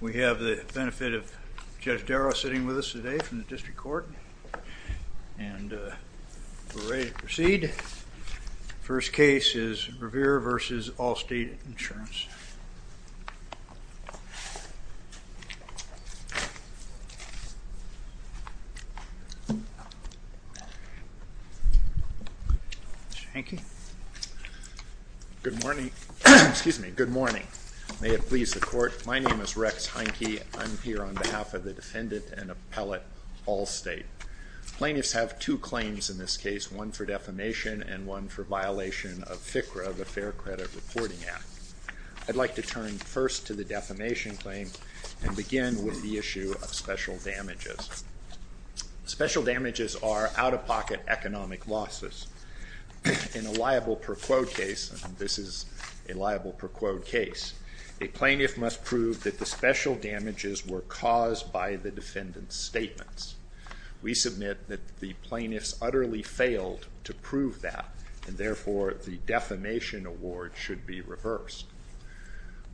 We have the benefit of Judge Darrow sitting with us today from the District Court and we're ready to proceed. First case is Rivera v. Allstate Insurance. Mr. Heineke? Good morning. May it please the Court, my name is Rex Heineke. I'm here on behalf of the defendant and appellate Allstate. Plaintiffs have two claims in this case, one for defamation and one for violation of FCRA, the Fair Credit Reporting Act. I'd like to turn first to the defamation claim and begin with the issue of special damages. Special damages are out-of-pocket economic losses. In a liable per quote case, this is a liable per quote case, a plaintiff must prove that the special damages were caused by the defendant's failed to prove that and therefore the defamation award should be reversed.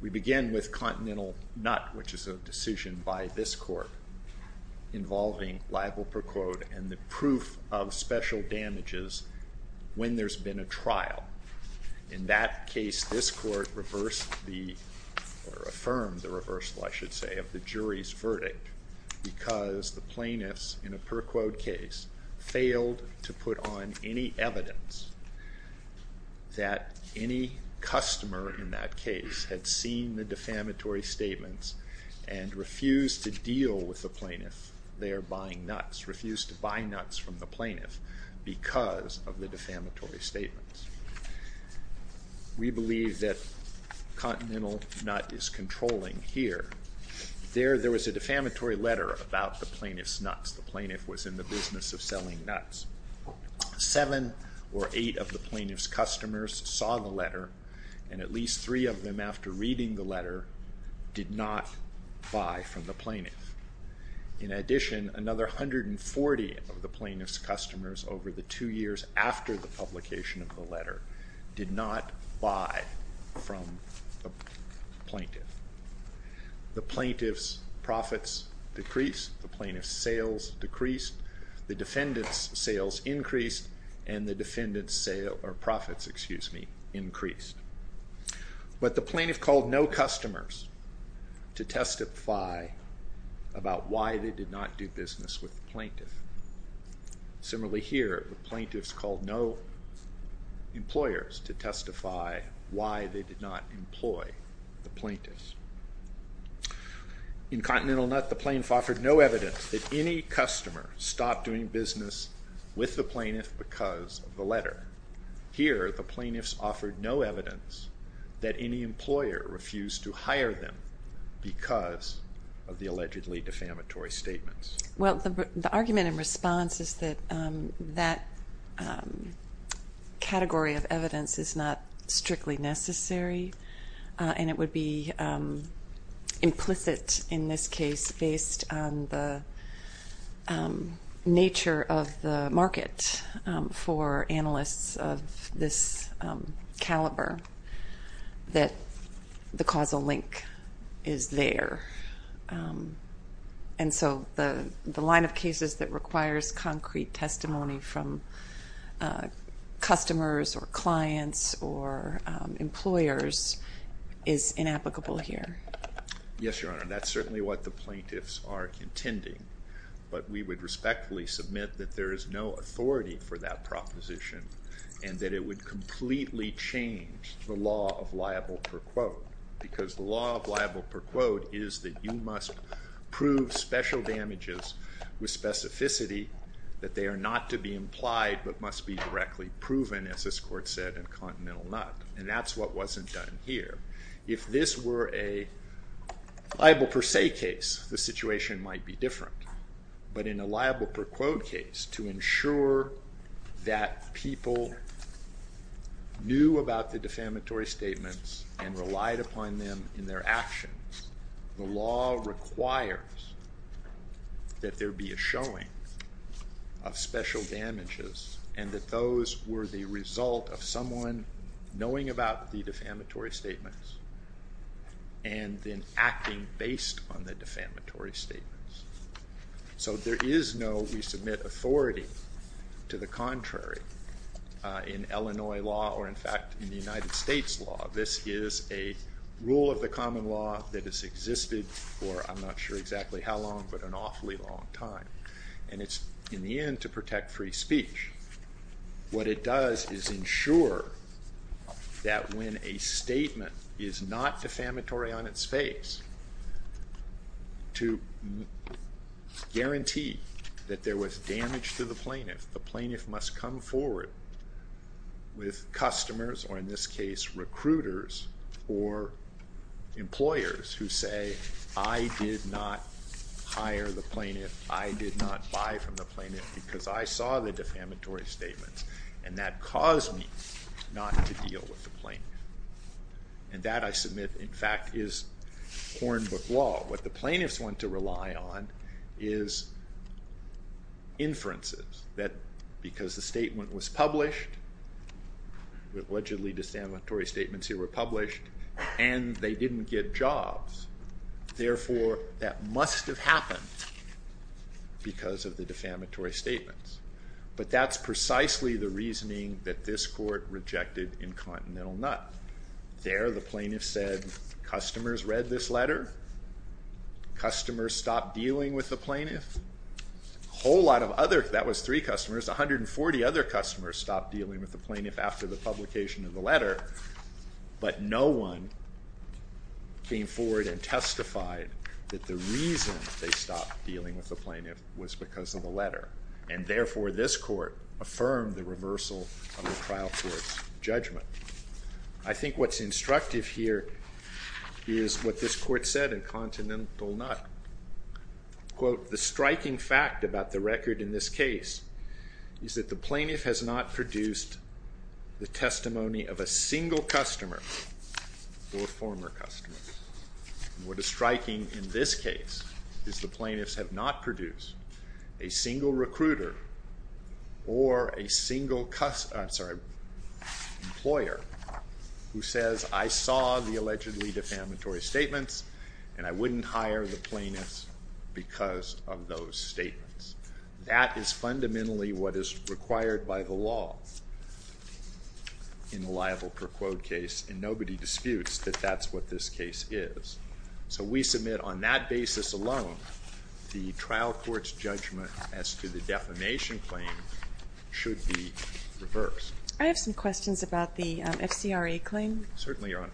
We begin with Continental Nut which is a decision by this Court involving liable per quote and the proof of special damages when there's been a trial. In that case, this Court reversed the, or affirmed the reversal I should say, of the jury's verdict because the plaintiffs in a per quote case failed to put on any evidence that any customer in that case had seen the defamatory statements and refused to deal with the plaintiff there buying nuts, refused to buy nuts from the plaintiff because of the defamatory statements. We believe that Continental Nut is controlling here. There, there was a defamatory letter about the plaintiff's nuts. The plaintiff was in the business of selling nuts. Seven or eight of the plaintiff's customers saw the letter and at least three of them after reading the letter did not buy from the plaintiff. In addition, another 140 of the plaintiff's customers over the two years after the publication of the letter did not buy from the plaintiff. The plaintiff's profits decreased, the plaintiff's sales decreased, the defendant's sales increased, and the defendant's profits increased. But the plaintiff called no customers to testify about why they did not do business with the plaintiff. Similarly here, the plaintiffs called no employers to testify why they did not employ the plaintiffs. In Continental Nut, the plaintiff offered no evidence that any customer stopped doing business with the plaintiff because of the letter. Here, the plaintiffs offered no evidence that any employer refused to hire them because of the allegedly defamatory statements. Well, the argument in response is that that category of evidence is not strictly necessary and it would be implicit in this case based on the nature of the market for analysts of this caliber that the causal link is there. And so the line of cases that requires concrete testimony from customers or clients or employers is inapplicable here. Yes, Your Honor. That's certainly what the plaintiffs are contending. But we would respectfully submit that there is no authority for that proposition and that it would completely change the law of liable per quote because the law of liable per quote is that you must prove special damages with specificity that they are not to be implied but must be directly proven, as this Court said in Continental Nut. And that's what wasn't done here. If this were a liable per se case, the situation might be different. But in a liable per quote case, to ensure that people knew about the defamatory statements and relied upon them in their actions, the law requires that there be a showing of special damages and that those were the result of someone knowing about the defamatory statements and then acting based on the defamatory statements. So there is no, we submit, authority to the rule of the common law that has existed for, I'm not sure exactly how long, but an awfully long time. And it's in the end to protect free speech. What it does is ensure that when a statement is not defamatory on its face, to guarantee that there was damage to the employers who say, I did not hire the plaintiff, I did not buy from the plaintiff because I saw the defamatory statements and that caused me not to deal with the plaintiff. And that I submit, in fact, is corn book law. What the plaintiffs want to rely on is inferences that because the statement was published, allegedly defamatory statements here were and they didn't get jobs. Therefore, that must have happened because of the defamatory statements. But that's precisely the reasoning that this court rejected in Continental Nut. There, the plaintiff said, customers read this letter, customers stopped dealing with the plaintiff, a whole lot of other, that was three customers, 140 other customers stopped dealing with the plaintiff after the publication of the letter, but no one came forward and testified that the reason they stopped dealing with the plaintiff was because of the letter. And therefore, this court affirmed the reversal of the trial court's judgment. I think what's instructive here is what this court said in Continental Nut. Quote, the striking fact about the record in this case is that the plaintiff has not produced the testimony of a single customer or former customer. What is striking in this case is the plaintiffs have not produced a single recruiter or a single employer who says, I saw the allegedly defamatory statements and I wouldn't hire the plaintiffs because of those statements. That is fundamentally what is required by the law in a liable per quote case and nobody disputes that that's what this case is. So we submit on that basis alone, the trial court's judgment as to the defamation claim should be reversed. I have some questions about the FCRA claim. Certainly, Your Honor.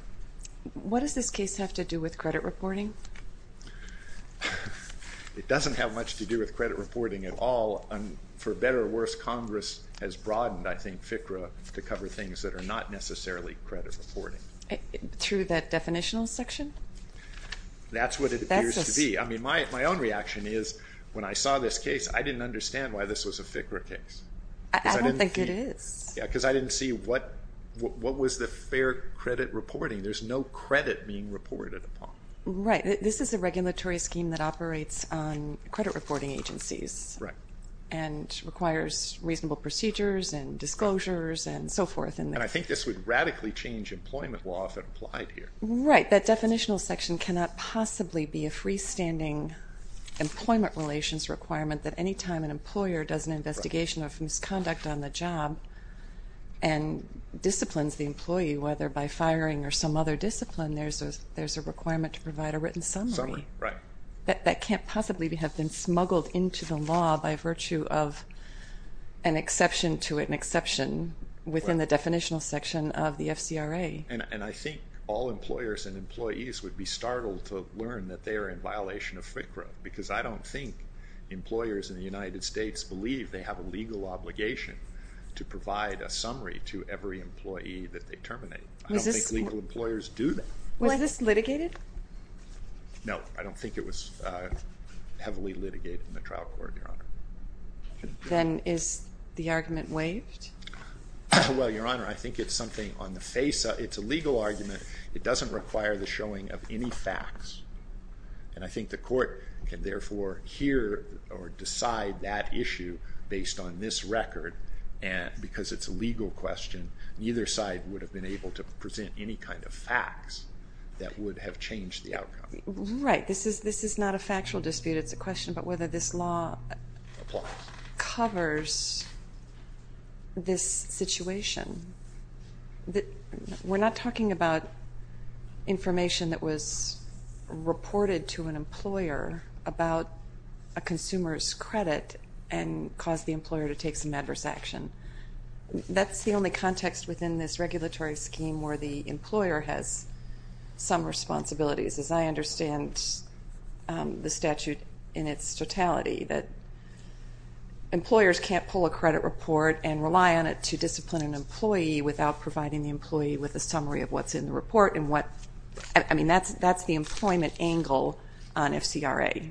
What does this case have to do with credit reporting? It doesn't have much to do with credit reporting at all. For better or worse, Congress has broadened, I think, FCRA to cover things that are not necessarily credit reporting. Through that definitional section? That's what it appears to be. I mean, my own reaction is when I saw this case, I didn't understand why this was a FCRA case. I don't think it is. Because I didn't see what was the fair credit reporting. There's no credit being reported upon. Right. This is a regulatory scheme that operates on credit reporting agencies and requires reasonable procedures and disclosures and so forth. I think this would radically change employment law if it applied here. Right. That definitional section cannot possibly be a freestanding employment relations requirement that any time an employer does an investigation of misconduct on the job and disciplines the employee, whether by firing or some other discipline, there's a requirement to provide a written summary. Summary. Right. That can't possibly have been smuggled into the law by virtue of an exception to an exception within the definitional section of the FCRA. And I think all employers and employees would be startled to learn that they are in violation of FCRA. Because I don't think employers in the United States believe they have a legal obligation to provide a summary to every employee that they terminate. Was this- I don't think legal employers do that. Was this litigated? No. I don't think it was heavily litigated in the trial court, Your Honor. Then is the argument waived? Well, Your Honor, I think it's something on the face. It's a legal argument. It doesn't require the showing of any facts. And I think the court can, therefore, hear or decide that issue based on this record. Because it's a legal question, neither side would have been able to present any kind of facts that would have changed the outcome. Right. This is not a factual dispute. It's a question about whether this law covers this situation. We're not talking about information that was reported to an employer about a consumer's credit and caused the employer to take some adverse action. That's the only context within this regulatory scheme where the employer has some responsibilities. As I understand the statute in its totality, that employers can't pull a credit report and rely on it to discipline an employee without providing the employee with a summary of what's in the report and what, I mean, that's the employment angle on FCRA.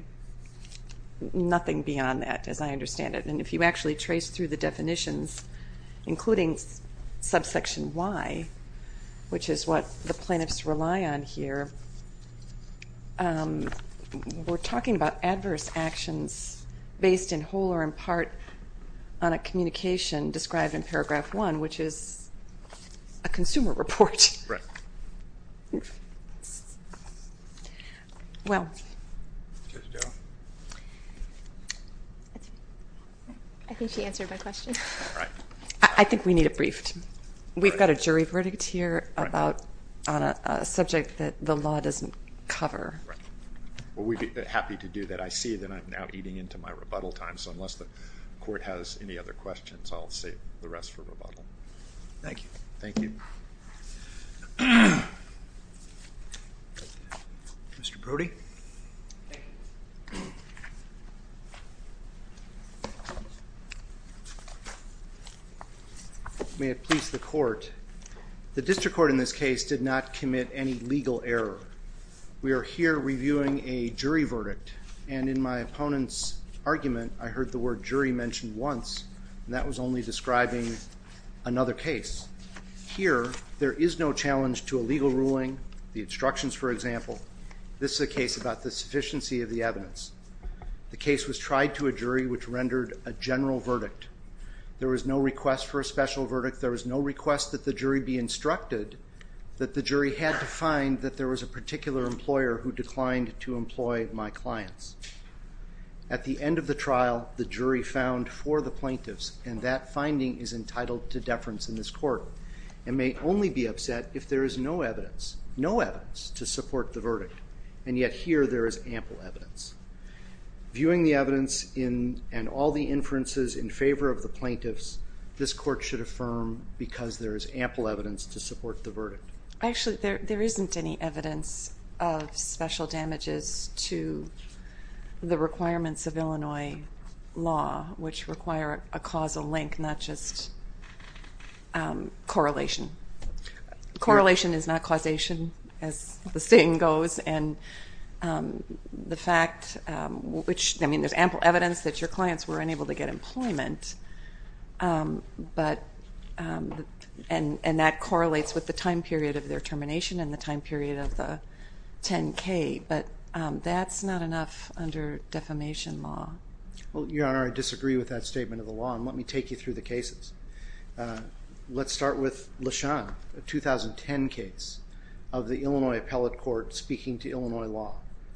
Nothing beyond that, as I understand it. And if you actually trace through the definitions, including subsection Y, which is what the plaintiffs rely on here, we're talking about adverse actions based in whole or in part on a communication described in paragraph one, which is a consumer report. Right. Well. Judge Doe? I think she answered my question. All right. I think we need a brief. We've got a jury verdict here on a subject that the law doesn't cover. Right. Well, we'd be happy to do that. I see that I'm now eating into my rebuttal time, so unless the court has any other questions, I'll save the rest for rebuttal. Thank you. Thank you. Mr. Brody? Thank you. May it please the court. The district court in this case did not commit any legal error. We are here reviewing a jury verdict, and in my opponent's argument, I heard the word jury mentioned once, and that was only describing another case. Here, there is no challenge to a legal ruling, the instructions, for example. This is a case about the sufficiency of the evidence. The case was tried to a jury, which rendered a general verdict. There was no request for a special verdict. who declined to employ my clients. At the end of the trial, the jury found four of the plaintiffs, and that finding is entitled to deference in this court, and may only be upset if there is no evidence, no evidence to support the verdict, and yet here there is ample evidence. Viewing the evidence and all the inferences in favor of the plaintiffs, this court should affirm because there is ample evidence to support the verdict. Actually, there isn't any evidence of special damages to the requirements of Illinois law, which require a causal link, not just correlation. Correlation is not causation, as the saying goes, and the fact which, I mean, there's ample evidence that your clients were unable to get employment, but, and that correlates with the time period of their termination and the time period of the 10-K, but that's not enough under defamation law. Well, Your Honor, I disagree with that statement of the law, and let me take you through the cases. Let's start with LeSean, a 2010 case of the Illinois Appellate Court speaking to Illinois law.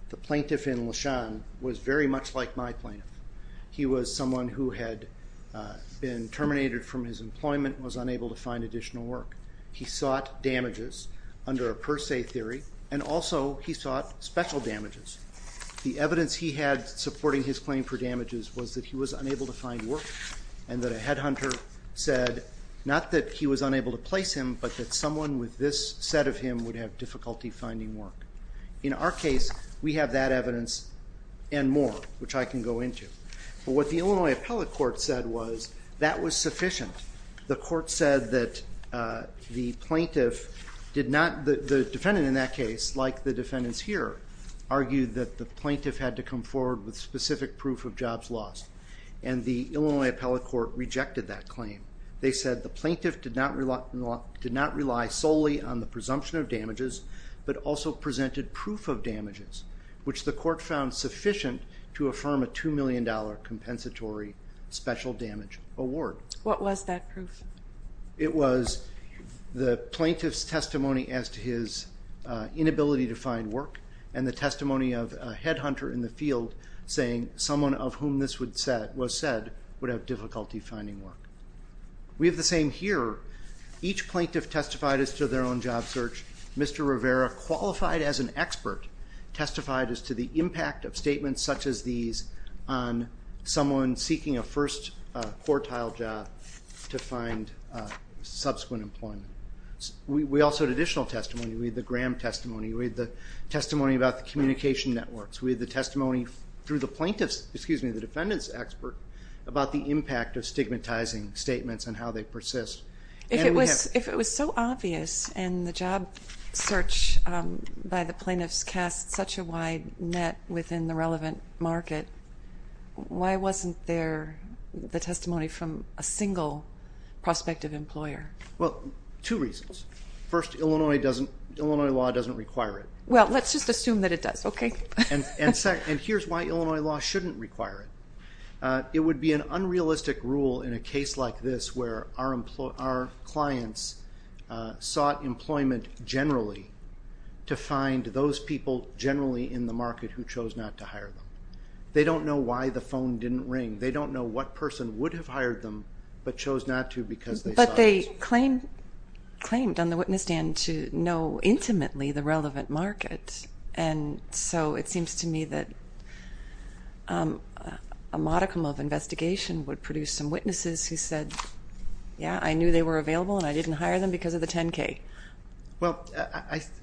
The plaintiff in LeSean was very much like my plaintiff. He was someone who had been terminated from his employment and was unable to find additional work. He sought damages under a per se theory, and also he sought special damages. The evidence he had supporting his claim for damages was that he was unable to find work and that a headhunter said, not that he was unable to place him, but that someone with this set of him would have difficulty finding work. In our case, we have that evidence and more, which I can go into. But what the Illinois Appellate Court said was that was sufficient. The court said that the plaintiff did not, the defendant in that case, like the defendants here, argued that the plaintiff had to come forward with specific proof of jobs lost, and the Illinois Appellate Court rejected that claim. They said the plaintiff did not rely solely on the presumption of damages, but also presented proof of damages, which the court found sufficient to affirm a $2 million compensatory special damage award. What was that proof? It was the plaintiff's testimony as to his inability to find work, and the testimony of a headhunter in the field saying someone of whom this was said would have difficulty finding work. We have the same here. Each plaintiff testified as to their own job search. Mr. Rivera, qualified as an expert, testified as to the impact of statements such as these on someone seeking a first quartile job to find subsequent employment. We also had additional testimony. We had the Graham testimony. We had the testimony about the communication networks. We had the testimony through the plaintiff's, excuse me, the defendant's expert about the impact of stigmatizing statements and how they persist. If it was so obvious, and the job search by the plaintiffs cast such a wide net within the relevant market, why wasn't there the testimony from a single prospective employer? Well, two reasons. First, Illinois law doesn't require it. Well, let's just assume that it does, okay? And here's why Illinois law shouldn't require it. It would be an unrealistic rule in a case like this where our clients sought employment generally to find those people generally in the market who chose not to hire them. They don't know why the phone didn't ring. They don't know what person would have hired them but chose not to because they saw this. But they claimed on the witness stand to know intimately the relevant market, and so it seems to me that a modicum of investigation would produce some witnesses who said, Yeah, I knew they were available and I didn't hire them because of the 10-K. Well,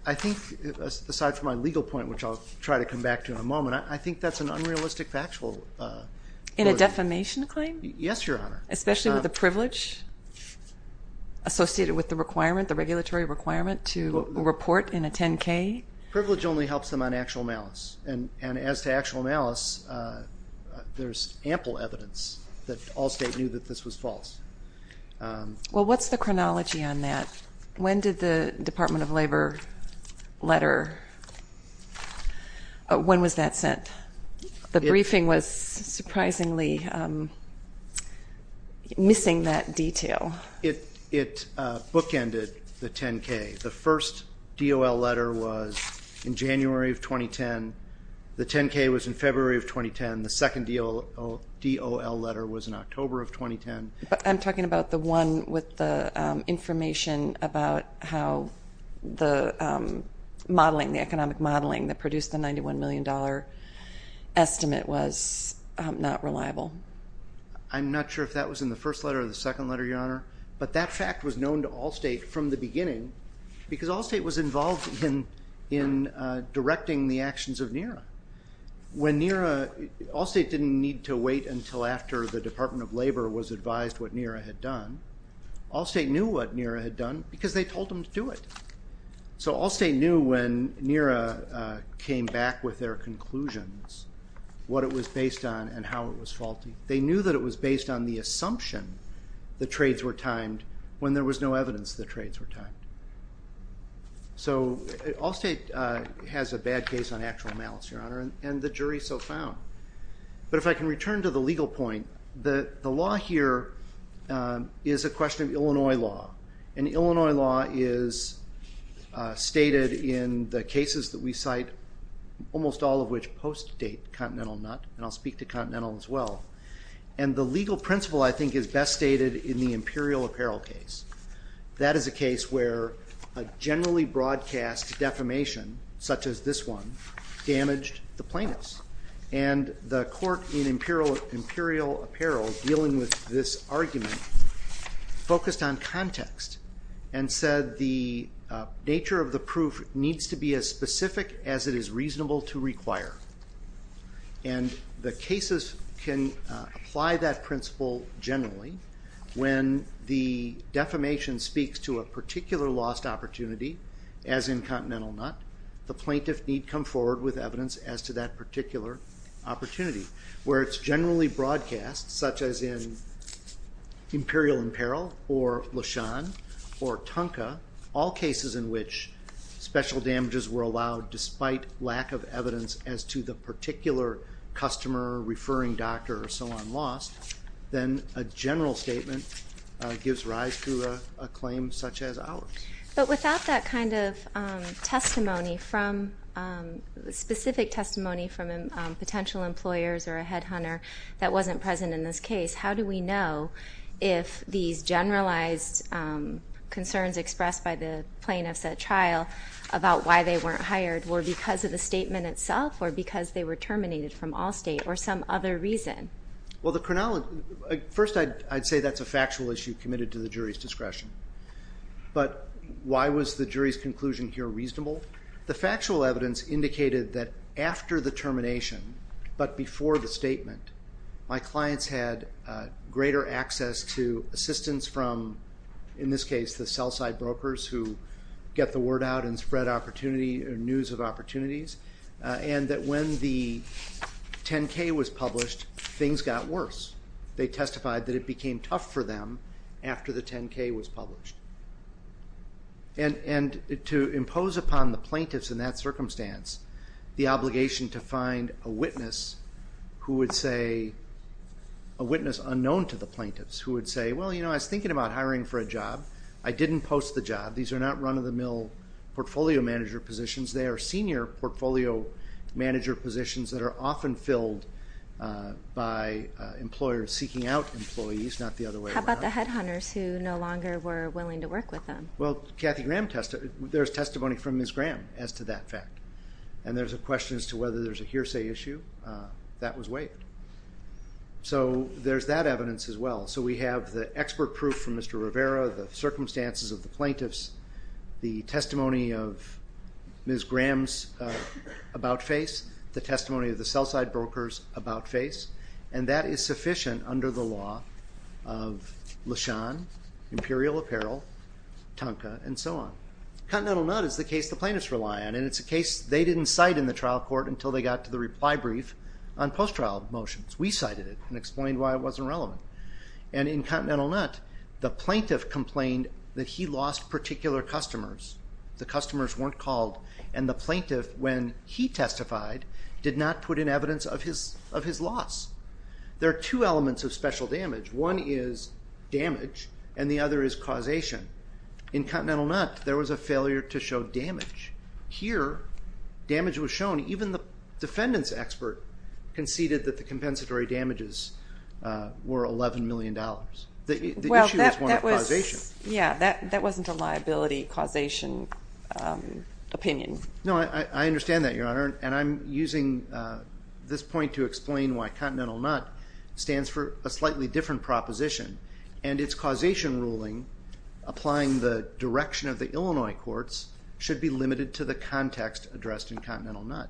I think aside from my legal point, which I'll try to come back to in a moment, I think that's an unrealistic factual rule. In a defamation claim? Yes, Your Honor. Especially with the privilege associated with the requirement, the regulatory requirement to report in a 10-K? Privilege only helps them on actual malice, and as to actual malice, there's ample evidence that Allstate knew that this was false. Well, what's the chronology on that? When did the Department of Labor letter, when was that sent? The briefing was surprisingly missing that detail. It bookended the 10-K. The first DOL letter was in January of 2010. The 10-K was in February of 2010. The second DOL letter was in October of 2010. I'm talking about the one with the information about how the modeling, the economic modeling that produced the $91 million estimate was not reliable. I'm not sure if that was in the first letter or the second letter, Your Honor, because Allstate was involved in directing the actions of NERA. When NERA, Allstate didn't need to wait until after the Department of Labor was advised what NERA had done. Allstate knew what NERA had done because they told them to do it. So Allstate knew when NERA came back with their conclusions, what it was based on and how it was faulty. So Allstate has a bad case on actual malice, Your Honor, and the jury so found. But if I can return to the legal point, the law here is a question of Illinois law. And Illinois law is stated in the cases that we cite, almost all of which post-date Continental NUT, and I'll speak to Continental as well. And the legal principle, I think, is best stated in the Imperial Apparel case. That is a case where a generally broadcast defamation, such as this one, damaged the plaintiffs. And the court in Imperial Apparel, dealing with this argument, focused on context and said the nature of the proof needs to be as specific as it is reasonable to require. And the cases can apply that principle generally. When the defamation speaks to a particular lost opportunity, as in Continental NUT, the plaintiff need come forward with evidence as to that particular opportunity. Where it's generally broadcast, such as in Imperial Apparel or LeSean or Tonka, all cases in which special damages were allowed despite lack of evidence as to the particular customer, referring doctor, or so on lost, then a general statement gives rise to a claim such as ours. But without that kind of testimony, specific testimony from potential employers or a headhunter that wasn't present in this case, how do we know if these generalized concerns expressed by the plaintiff's trial about why they weren't hired were because of the statement itself or because they were terminated from Allstate or some other reason? Well, first I'd say that's a factual issue committed to the jury's discretion. But why was the jury's conclusion here reasonable? The factual evidence indicated that after the termination, but before the statement, my clients had greater access to assistance from, in this case, the sell-side brokers who get the word out and spread news of opportunities, and that when the 10-K was published, things got worse. They testified that it became tough for them after the 10-K was published. And to impose upon the plaintiffs in that circumstance the obligation to find a witness who would say, a witness unknown to the plaintiffs, who would say, well, you know, I was thinking about hiring for a job. I didn't post the job. These are not run-of-the-mill portfolio manager positions. They are senior portfolio manager positions that are often filled by employers seeking out employees, not the other way around. How about the headhunters who no longer were willing to work with them? Well, there's testimony from Ms. Graham as to that fact, and there's a question as to whether there's a hearsay issue. That was waived. So there's that evidence as well. So we have the expert proof from Mr. Rivera, the circumstances of the plaintiffs, the testimony of Ms. Graham's about face, the testimony of the sell-side brokers about face, and that is sufficient under the law of LeSean, Imperial Apparel, Tonka, and so on. Continental Nut is the case the plaintiffs rely on, and it's a case they didn't cite in the trial court until they got to the reply brief on post-trial motions. We cited it and explained why it wasn't relevant. And in Continental Nut, the plaintiff complained that he lost particular customers. The customers weren't called, and the plaintiff, when he testified, did not put in evidence of his loss. There are two elements of special damage. One is damage, and the other is causation. In Continental Nut, there was a failure to show damage. Here, damage was shown. Even the defendant's expert conceded that the compensatory damages were $11 million. The issue was one of causation. Yeah, that wasn't a liability causation opinion. No, I understand that, Your Honor, and I'm using this point to explain why Continental Nut stands for a slightly different proposition, and its causation ruling applying the direction of the Illinois courts should be limited to the context addressed in Continental Nut.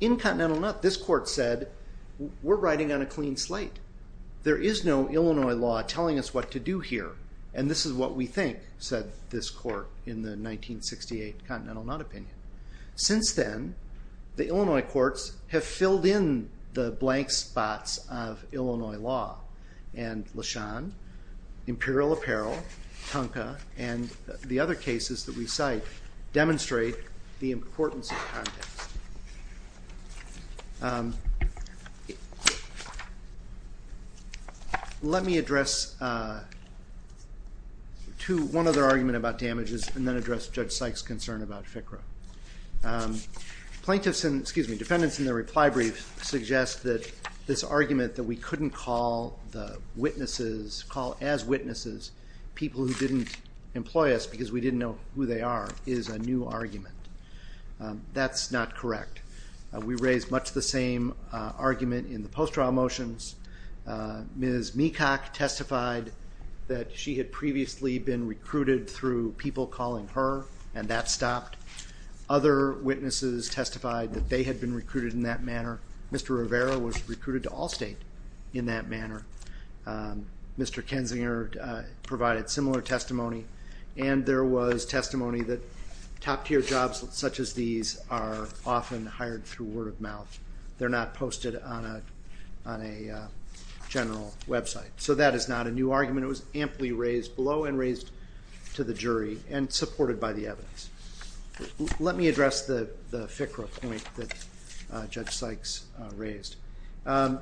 In Continental Nut, this court said, we're riding on a clean slate. There is no Illinois law telling us what to do here, and this is what we think, said this court in the 1968 Continental Nut opinion. Since then, the Illinois courts have filled in the blank spots of Illinois law, and LeSean, Imperial Apparel, Tonka, and the other cases that we cite demonstrate the importance of context. Let me address one other argument about damages, and then address Judge Sykes' concern about FCRA. Plaintiffs and, excuse me, defendants in the reply brief suggest that this argument that we couldn't call the witnesses, call as witnesses people who didn't employ us because we didn't know who they are, is a new argument. That's not correct. We raised much the same argument in the post-trial motions. Ms. Meacock testified that she had previously been recruited through people calling her, and that stopped. Other witnesses testified that they had been recruited in that manner. Mr. Rivera was recruited to Allstate in that manner. Mr. Kensinger provided similar testimony, and there was testimony that top-tier jobs such as these are often hired through word of mouth. They're not posted on a general website. So that is not a new argument. It was amply raised below and raised to the jury and supported by the evidence. Let me address the FCRA point that Judge Sykes raised. Our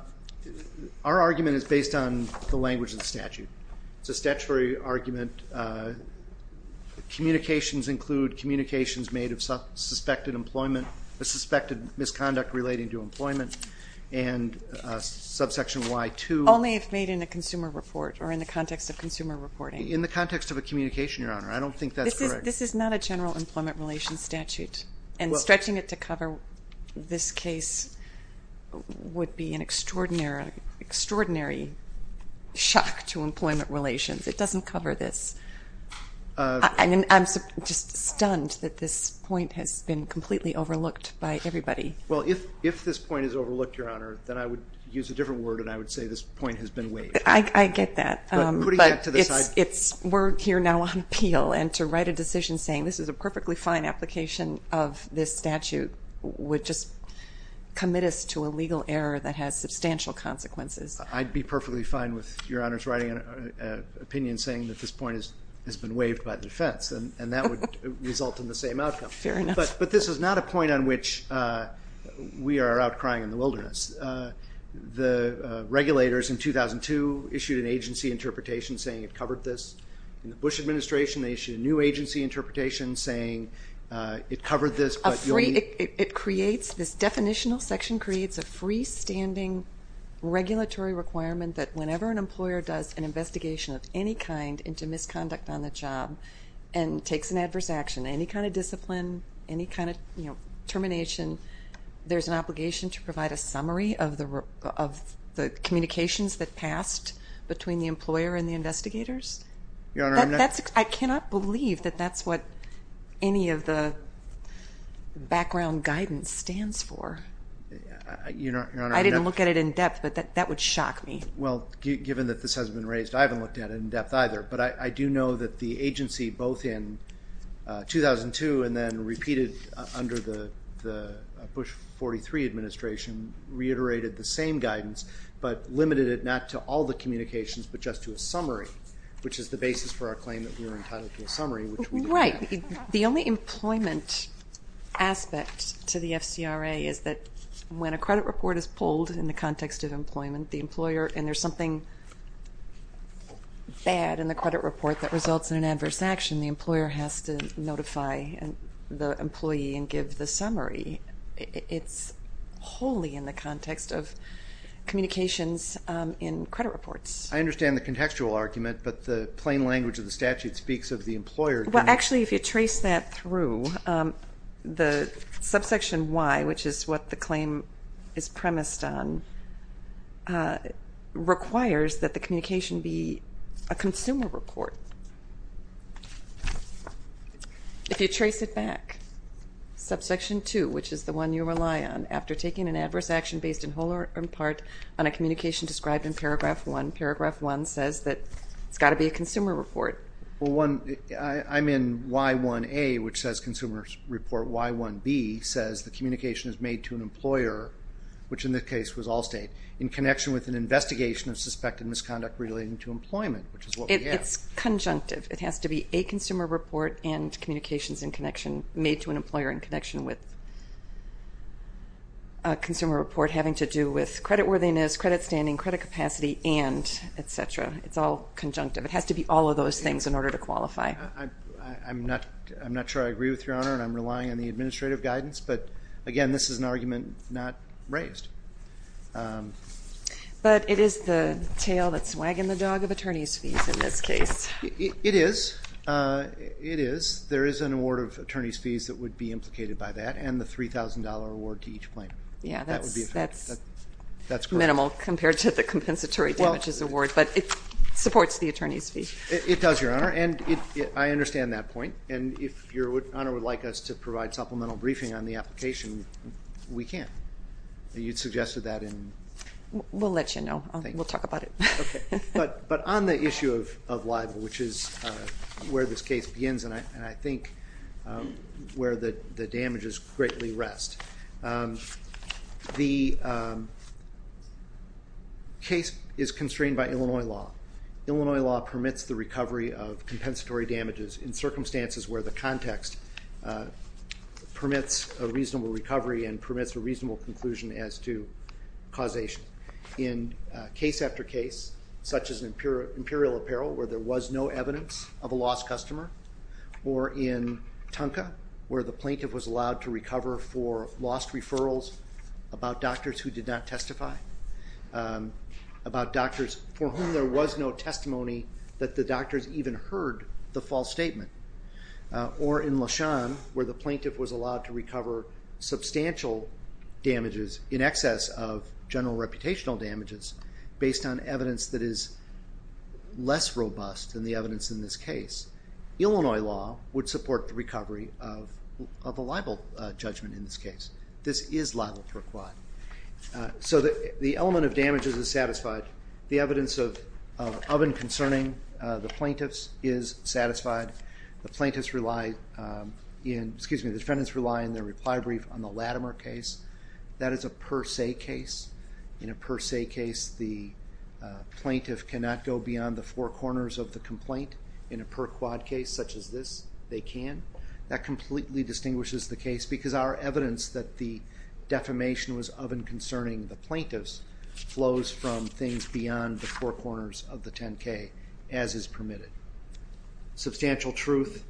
argument is based on the language of the statute. It's a statutory argument. Communications include communications made of suspected employment, a suspected misconduct relating to employment, and subsection Y2. Only if made in a consumer report or in the context of consumer reporting. In the context of a communication, Your Honor. I don't think that's correct. This is not a general employment relations statute, and stretching it to cover this case would be an extraordinary shock to employment relations. It doesn't cover this. I'm just stunned that this point has been completely overlooked by everybody. Well, if this point is overlooked, Your Honor, then I would use a different word and I would say this point has been waived. I get that. But who do you get to decide? We're here now on appeal, and to write a decision saying this is a perfectly fine application of this statute would just commit us to a legal error that has substantial consequences. I'd be perfectly fine with Your Honor's writing an opinion saying that this point has been waived by the defense, and that would result in the same outcome. Fair enough. But this is not a point on which we are out crying in the wilderness. The regulators in 2002 issued an agency interpretation saying it covered this. In the Bush administration, they issued a new agency interpretation saying it covered this. This definitional section creates a freestanding regulatory requirement that whenever an employer does an investigation of any kind into misconduct on the job and takes an adverse action, any kind of discipline, any kind of termination, there's an obligation to provide a summary of the communications that passed between the employer and the investigators? Your Honor, I'm not. I cannot believe that that's what any of the background guidance stands for. Your Honor, I'm not. I didn't look at it in depth, but that would shock me. Well, given that this has been raised, I haven't looked at it in depth either. But I do know that the agency, both in 2002 and then repeated under the Bush 43 administration, reiterated the same guidance but limited it not to all the communications but just to a summary, which is the basis for our claim that we were entitled to a summary. Right. The only employment aspect to the FCRA is that when a credit report is pulled in the context of employment, the employer, and there's something bad in the credit report that results in an adverse action, the employer has to notify the employee and give the summary. It's wholly in the context of communications in credit reports. I understand the contextual argument, but the plain language of the statute speaks of the employer. Well, actually, if you trace that through, the subsection Y, which is what the claim is premised on, requires that the communication be a consumer report. If you trace it back, subsection 2, which is the one you rely on, after taking an adverse action based in whole or in part on a communication described in paragraph 1, paragraph 1 says that it's got to be a consumer report. I'm in Y1A, which says consumer report. Y1B says the communication is made to an employer, which in this case was Allstate, in connection with an investigation of suspected misconduct relating to employment, which is what we have. It's conjunctive. It has to be a consumer report and communications made to an employer in connection with a consumer report having to do with credit worthiness, credit standing, credit capacity, and et cetera. It's all conjunctive. It has to be all of those things in order to qualify. I'm not sure I agree with you, Your Honor, and I'm relying on the administrative guidance. But, again, this is an argument not raised. But it is the tail that's wagging the dog of attorney's fees in this case. It is. There is an award of attorney's fees that would be implicated by that and the $3,000 award to each plaintiff. Yeah, that's minimal compared to the compensatory damages award, but it supports the attorney's fee. It does, Your Honor, and I understand that point. And if Your Honor would like us to provide supplemental briefing on the application, we can. You suggested that in the case. We'll let you know. We'll talk about it. Okay. But on the issue of libel, which is where this case begins and I think where the damages greatly rest, the case is constrained by Illinois law. Illinois law permits the recovery of compensatory damages in circumstances where the context permits a reasonable recovery and permits a reasonable conclusion as to causation. In case after case, such as imperial apparel, where there was no evidence of a lost customer, or in Tonka, where the plaintiff was allowed to recover for lost referrals about doctors who did not testify, about doctors for whom there was no testimony that the doctors even heard the false statement, or in Leshan, where the plaintiff was allowed to recover substantial damages in excess of general reputational damages based on evidence that is less robust than the evidence in this case, Illinois law would support the recovery of a libel judgment in this case. This is libel per quad. So the element of damages is satisfied. The evidence of oven concerning the plaintiffs is satisfied. The plaintiffs rely in, excuse me, the defendants rely in their reply brief on the Latimer case. That is a per se case. In a per se case, the plaintiff cannot go beyond the four corners of the complaint. In a per quad case such as this, they can. That completely distinguishes the case because our evidence that the defamation was oven concerning the plaintiffs flows from things beyond the four corners of the 10-K, as is permitted. Substantial truth,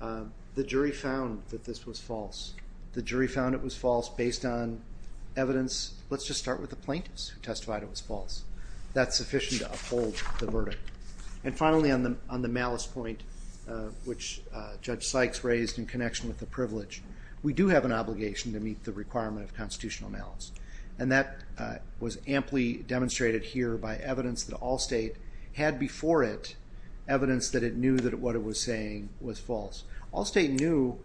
the jury found that this was false. The jury found it was false based on evidence. Let's just start with the plaintiffs who testified it was false. That's sufficient to uphold the verdict. Finally, on the malice point, which Judge Sykes raised in connection with the privilege, we do have an obligation to meet the requirement of constitutional malice. That was amply demonstrated here by evidence that Allstate had before it, evidence that it knew that what it was saying was false. Allstate knew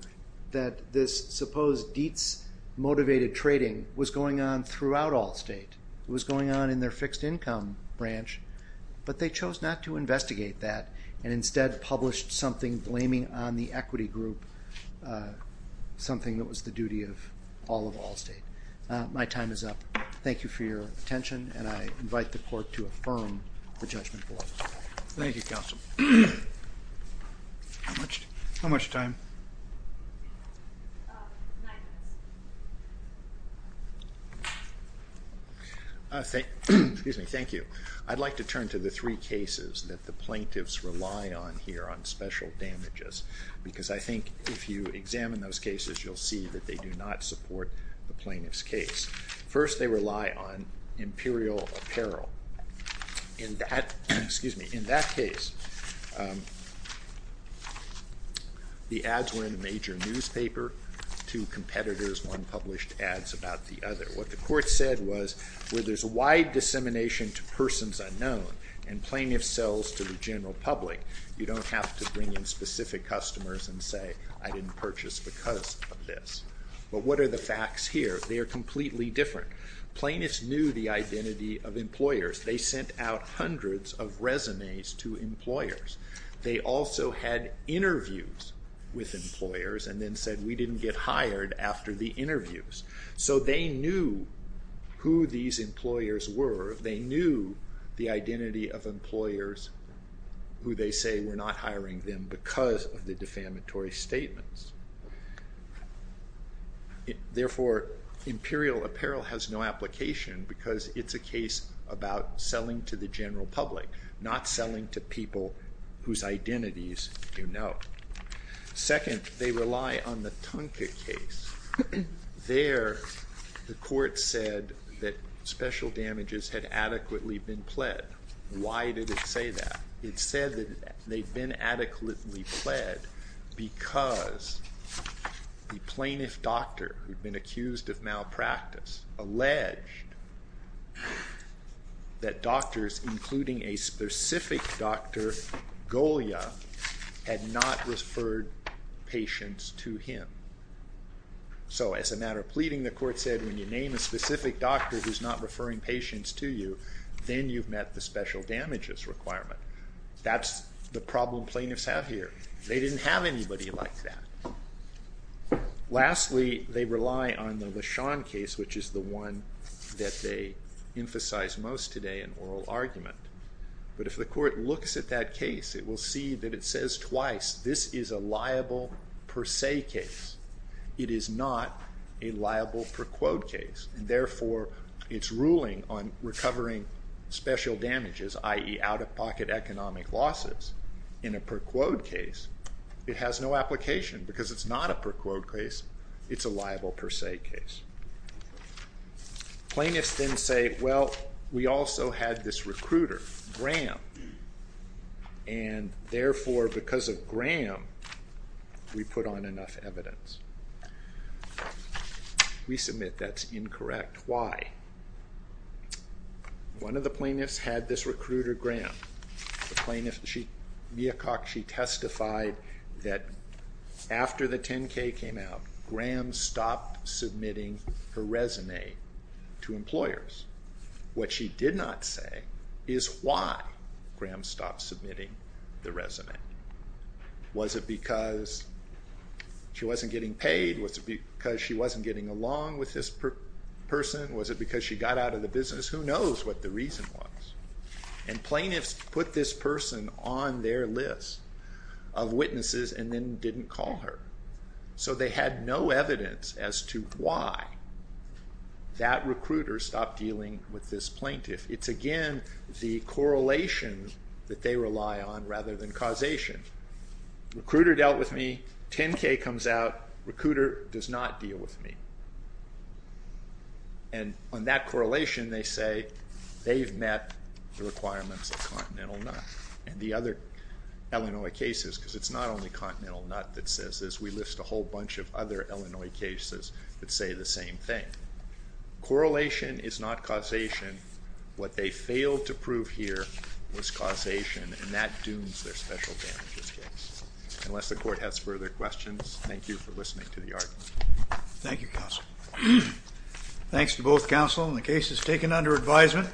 that this supposed Dietz-motivated trading was going on throughout Allstate. It was going on in their fixed income branch, but they chose not to investigate that and instead published something blaming on the equity group, something that was the duty of all of Allstate. My time is up. Thank you for your attention, and I invite the court to affirm the judgment below. Thank you, counsel. How much time? Nine minutes. Thank you. I'd like to turn to the three cases that the plaintiffs rely on here, on special damages, because I think if you examine those cases, you'll see that they do not support the plaintiff's case. First, they rely on imperial apparel. In that case, the ads were in a major newspaper. Two competitors, one published ads about the other. What the court said was, where there's a wide dissemination to persons unknown and plaintiff sells to the general public, you don't have to bring in specific customers and say, I didn't purchase because of this. But what are the facts here? They are completely different. Plaintiffs knew the identity of employers. They sent out hundreds of resumes to employers. They also had interviews with employers and then said, we didn't get hired after the interviews. So they knew who these employers were. They knew the identity of employers who they say were not hiring them because of the defamatory statements. Therefore, imperial apparel has no application because it's a case about selling to the general public, not selling to people whose identities you know. Second, they rely on the Tunka case. There, the court said that special damages had adequately been pled. Why did it say that? It said that they'd been adequately pled because the plaintiff doctor who'd been accused of malpractice had not referred patients to him. So as a matter of pleading, the court said, when you name a specific doctor who's not referring patients to you, then you've met the special damages requirement. That's the problem plaintiffs have here. They didn't have anybody like that. Lastly, they rely on the LeSean case, which is the one that they emphasize most today in oral argument. But if the court looks at that case, it will see that it says twice this is a liable per se case. It is not a liable per quote case, and therefore it's ruling on recovering special damages, i.e. out-of-pocket economic losses, in a per quote case. It has no application because it's not a per quote case. It's a liable per se case. Plaintiffs then say, well, we also had this recruiter, Graham, and therefore, because of Graham, we put on enough evidence. We submit that's incorrect. Why? One of the plaintiffs had this recruiter, Graham. Mia Cox, she testified that after the 10K came out, Graham stopped submitting her resume to employers. What she did not say is why Graham stopped submitting the resume. Was it because she wasn't getting paid? Was it because she wasn't getting along with this person? Was it because she got out of the business? Who knows what the reason was? And plaintiffs put this person on their list of witnesses and then didn't call her. So they had no evidence as to why that recruiter stopped dealing with this plaintiff. It's, again, the correlation that they rely on rather than causation. Recruiter dealt with me. 10K comes out. Recruiter does not deal with me. And on that correlation, they say they've met the requirements of Continental NUT and the other Illinois cases, because it's not only Continental NUT that says this. We list a whole bunch of other Illinois cases that say the same thing. Correlation is not causation. What they failed to prove here was causation, and that dooms their special damages case. Unless the court has further questions, thank you for listening to the argument. Thank you, counsel. Thanks to both counsel in the cases taken under advisement.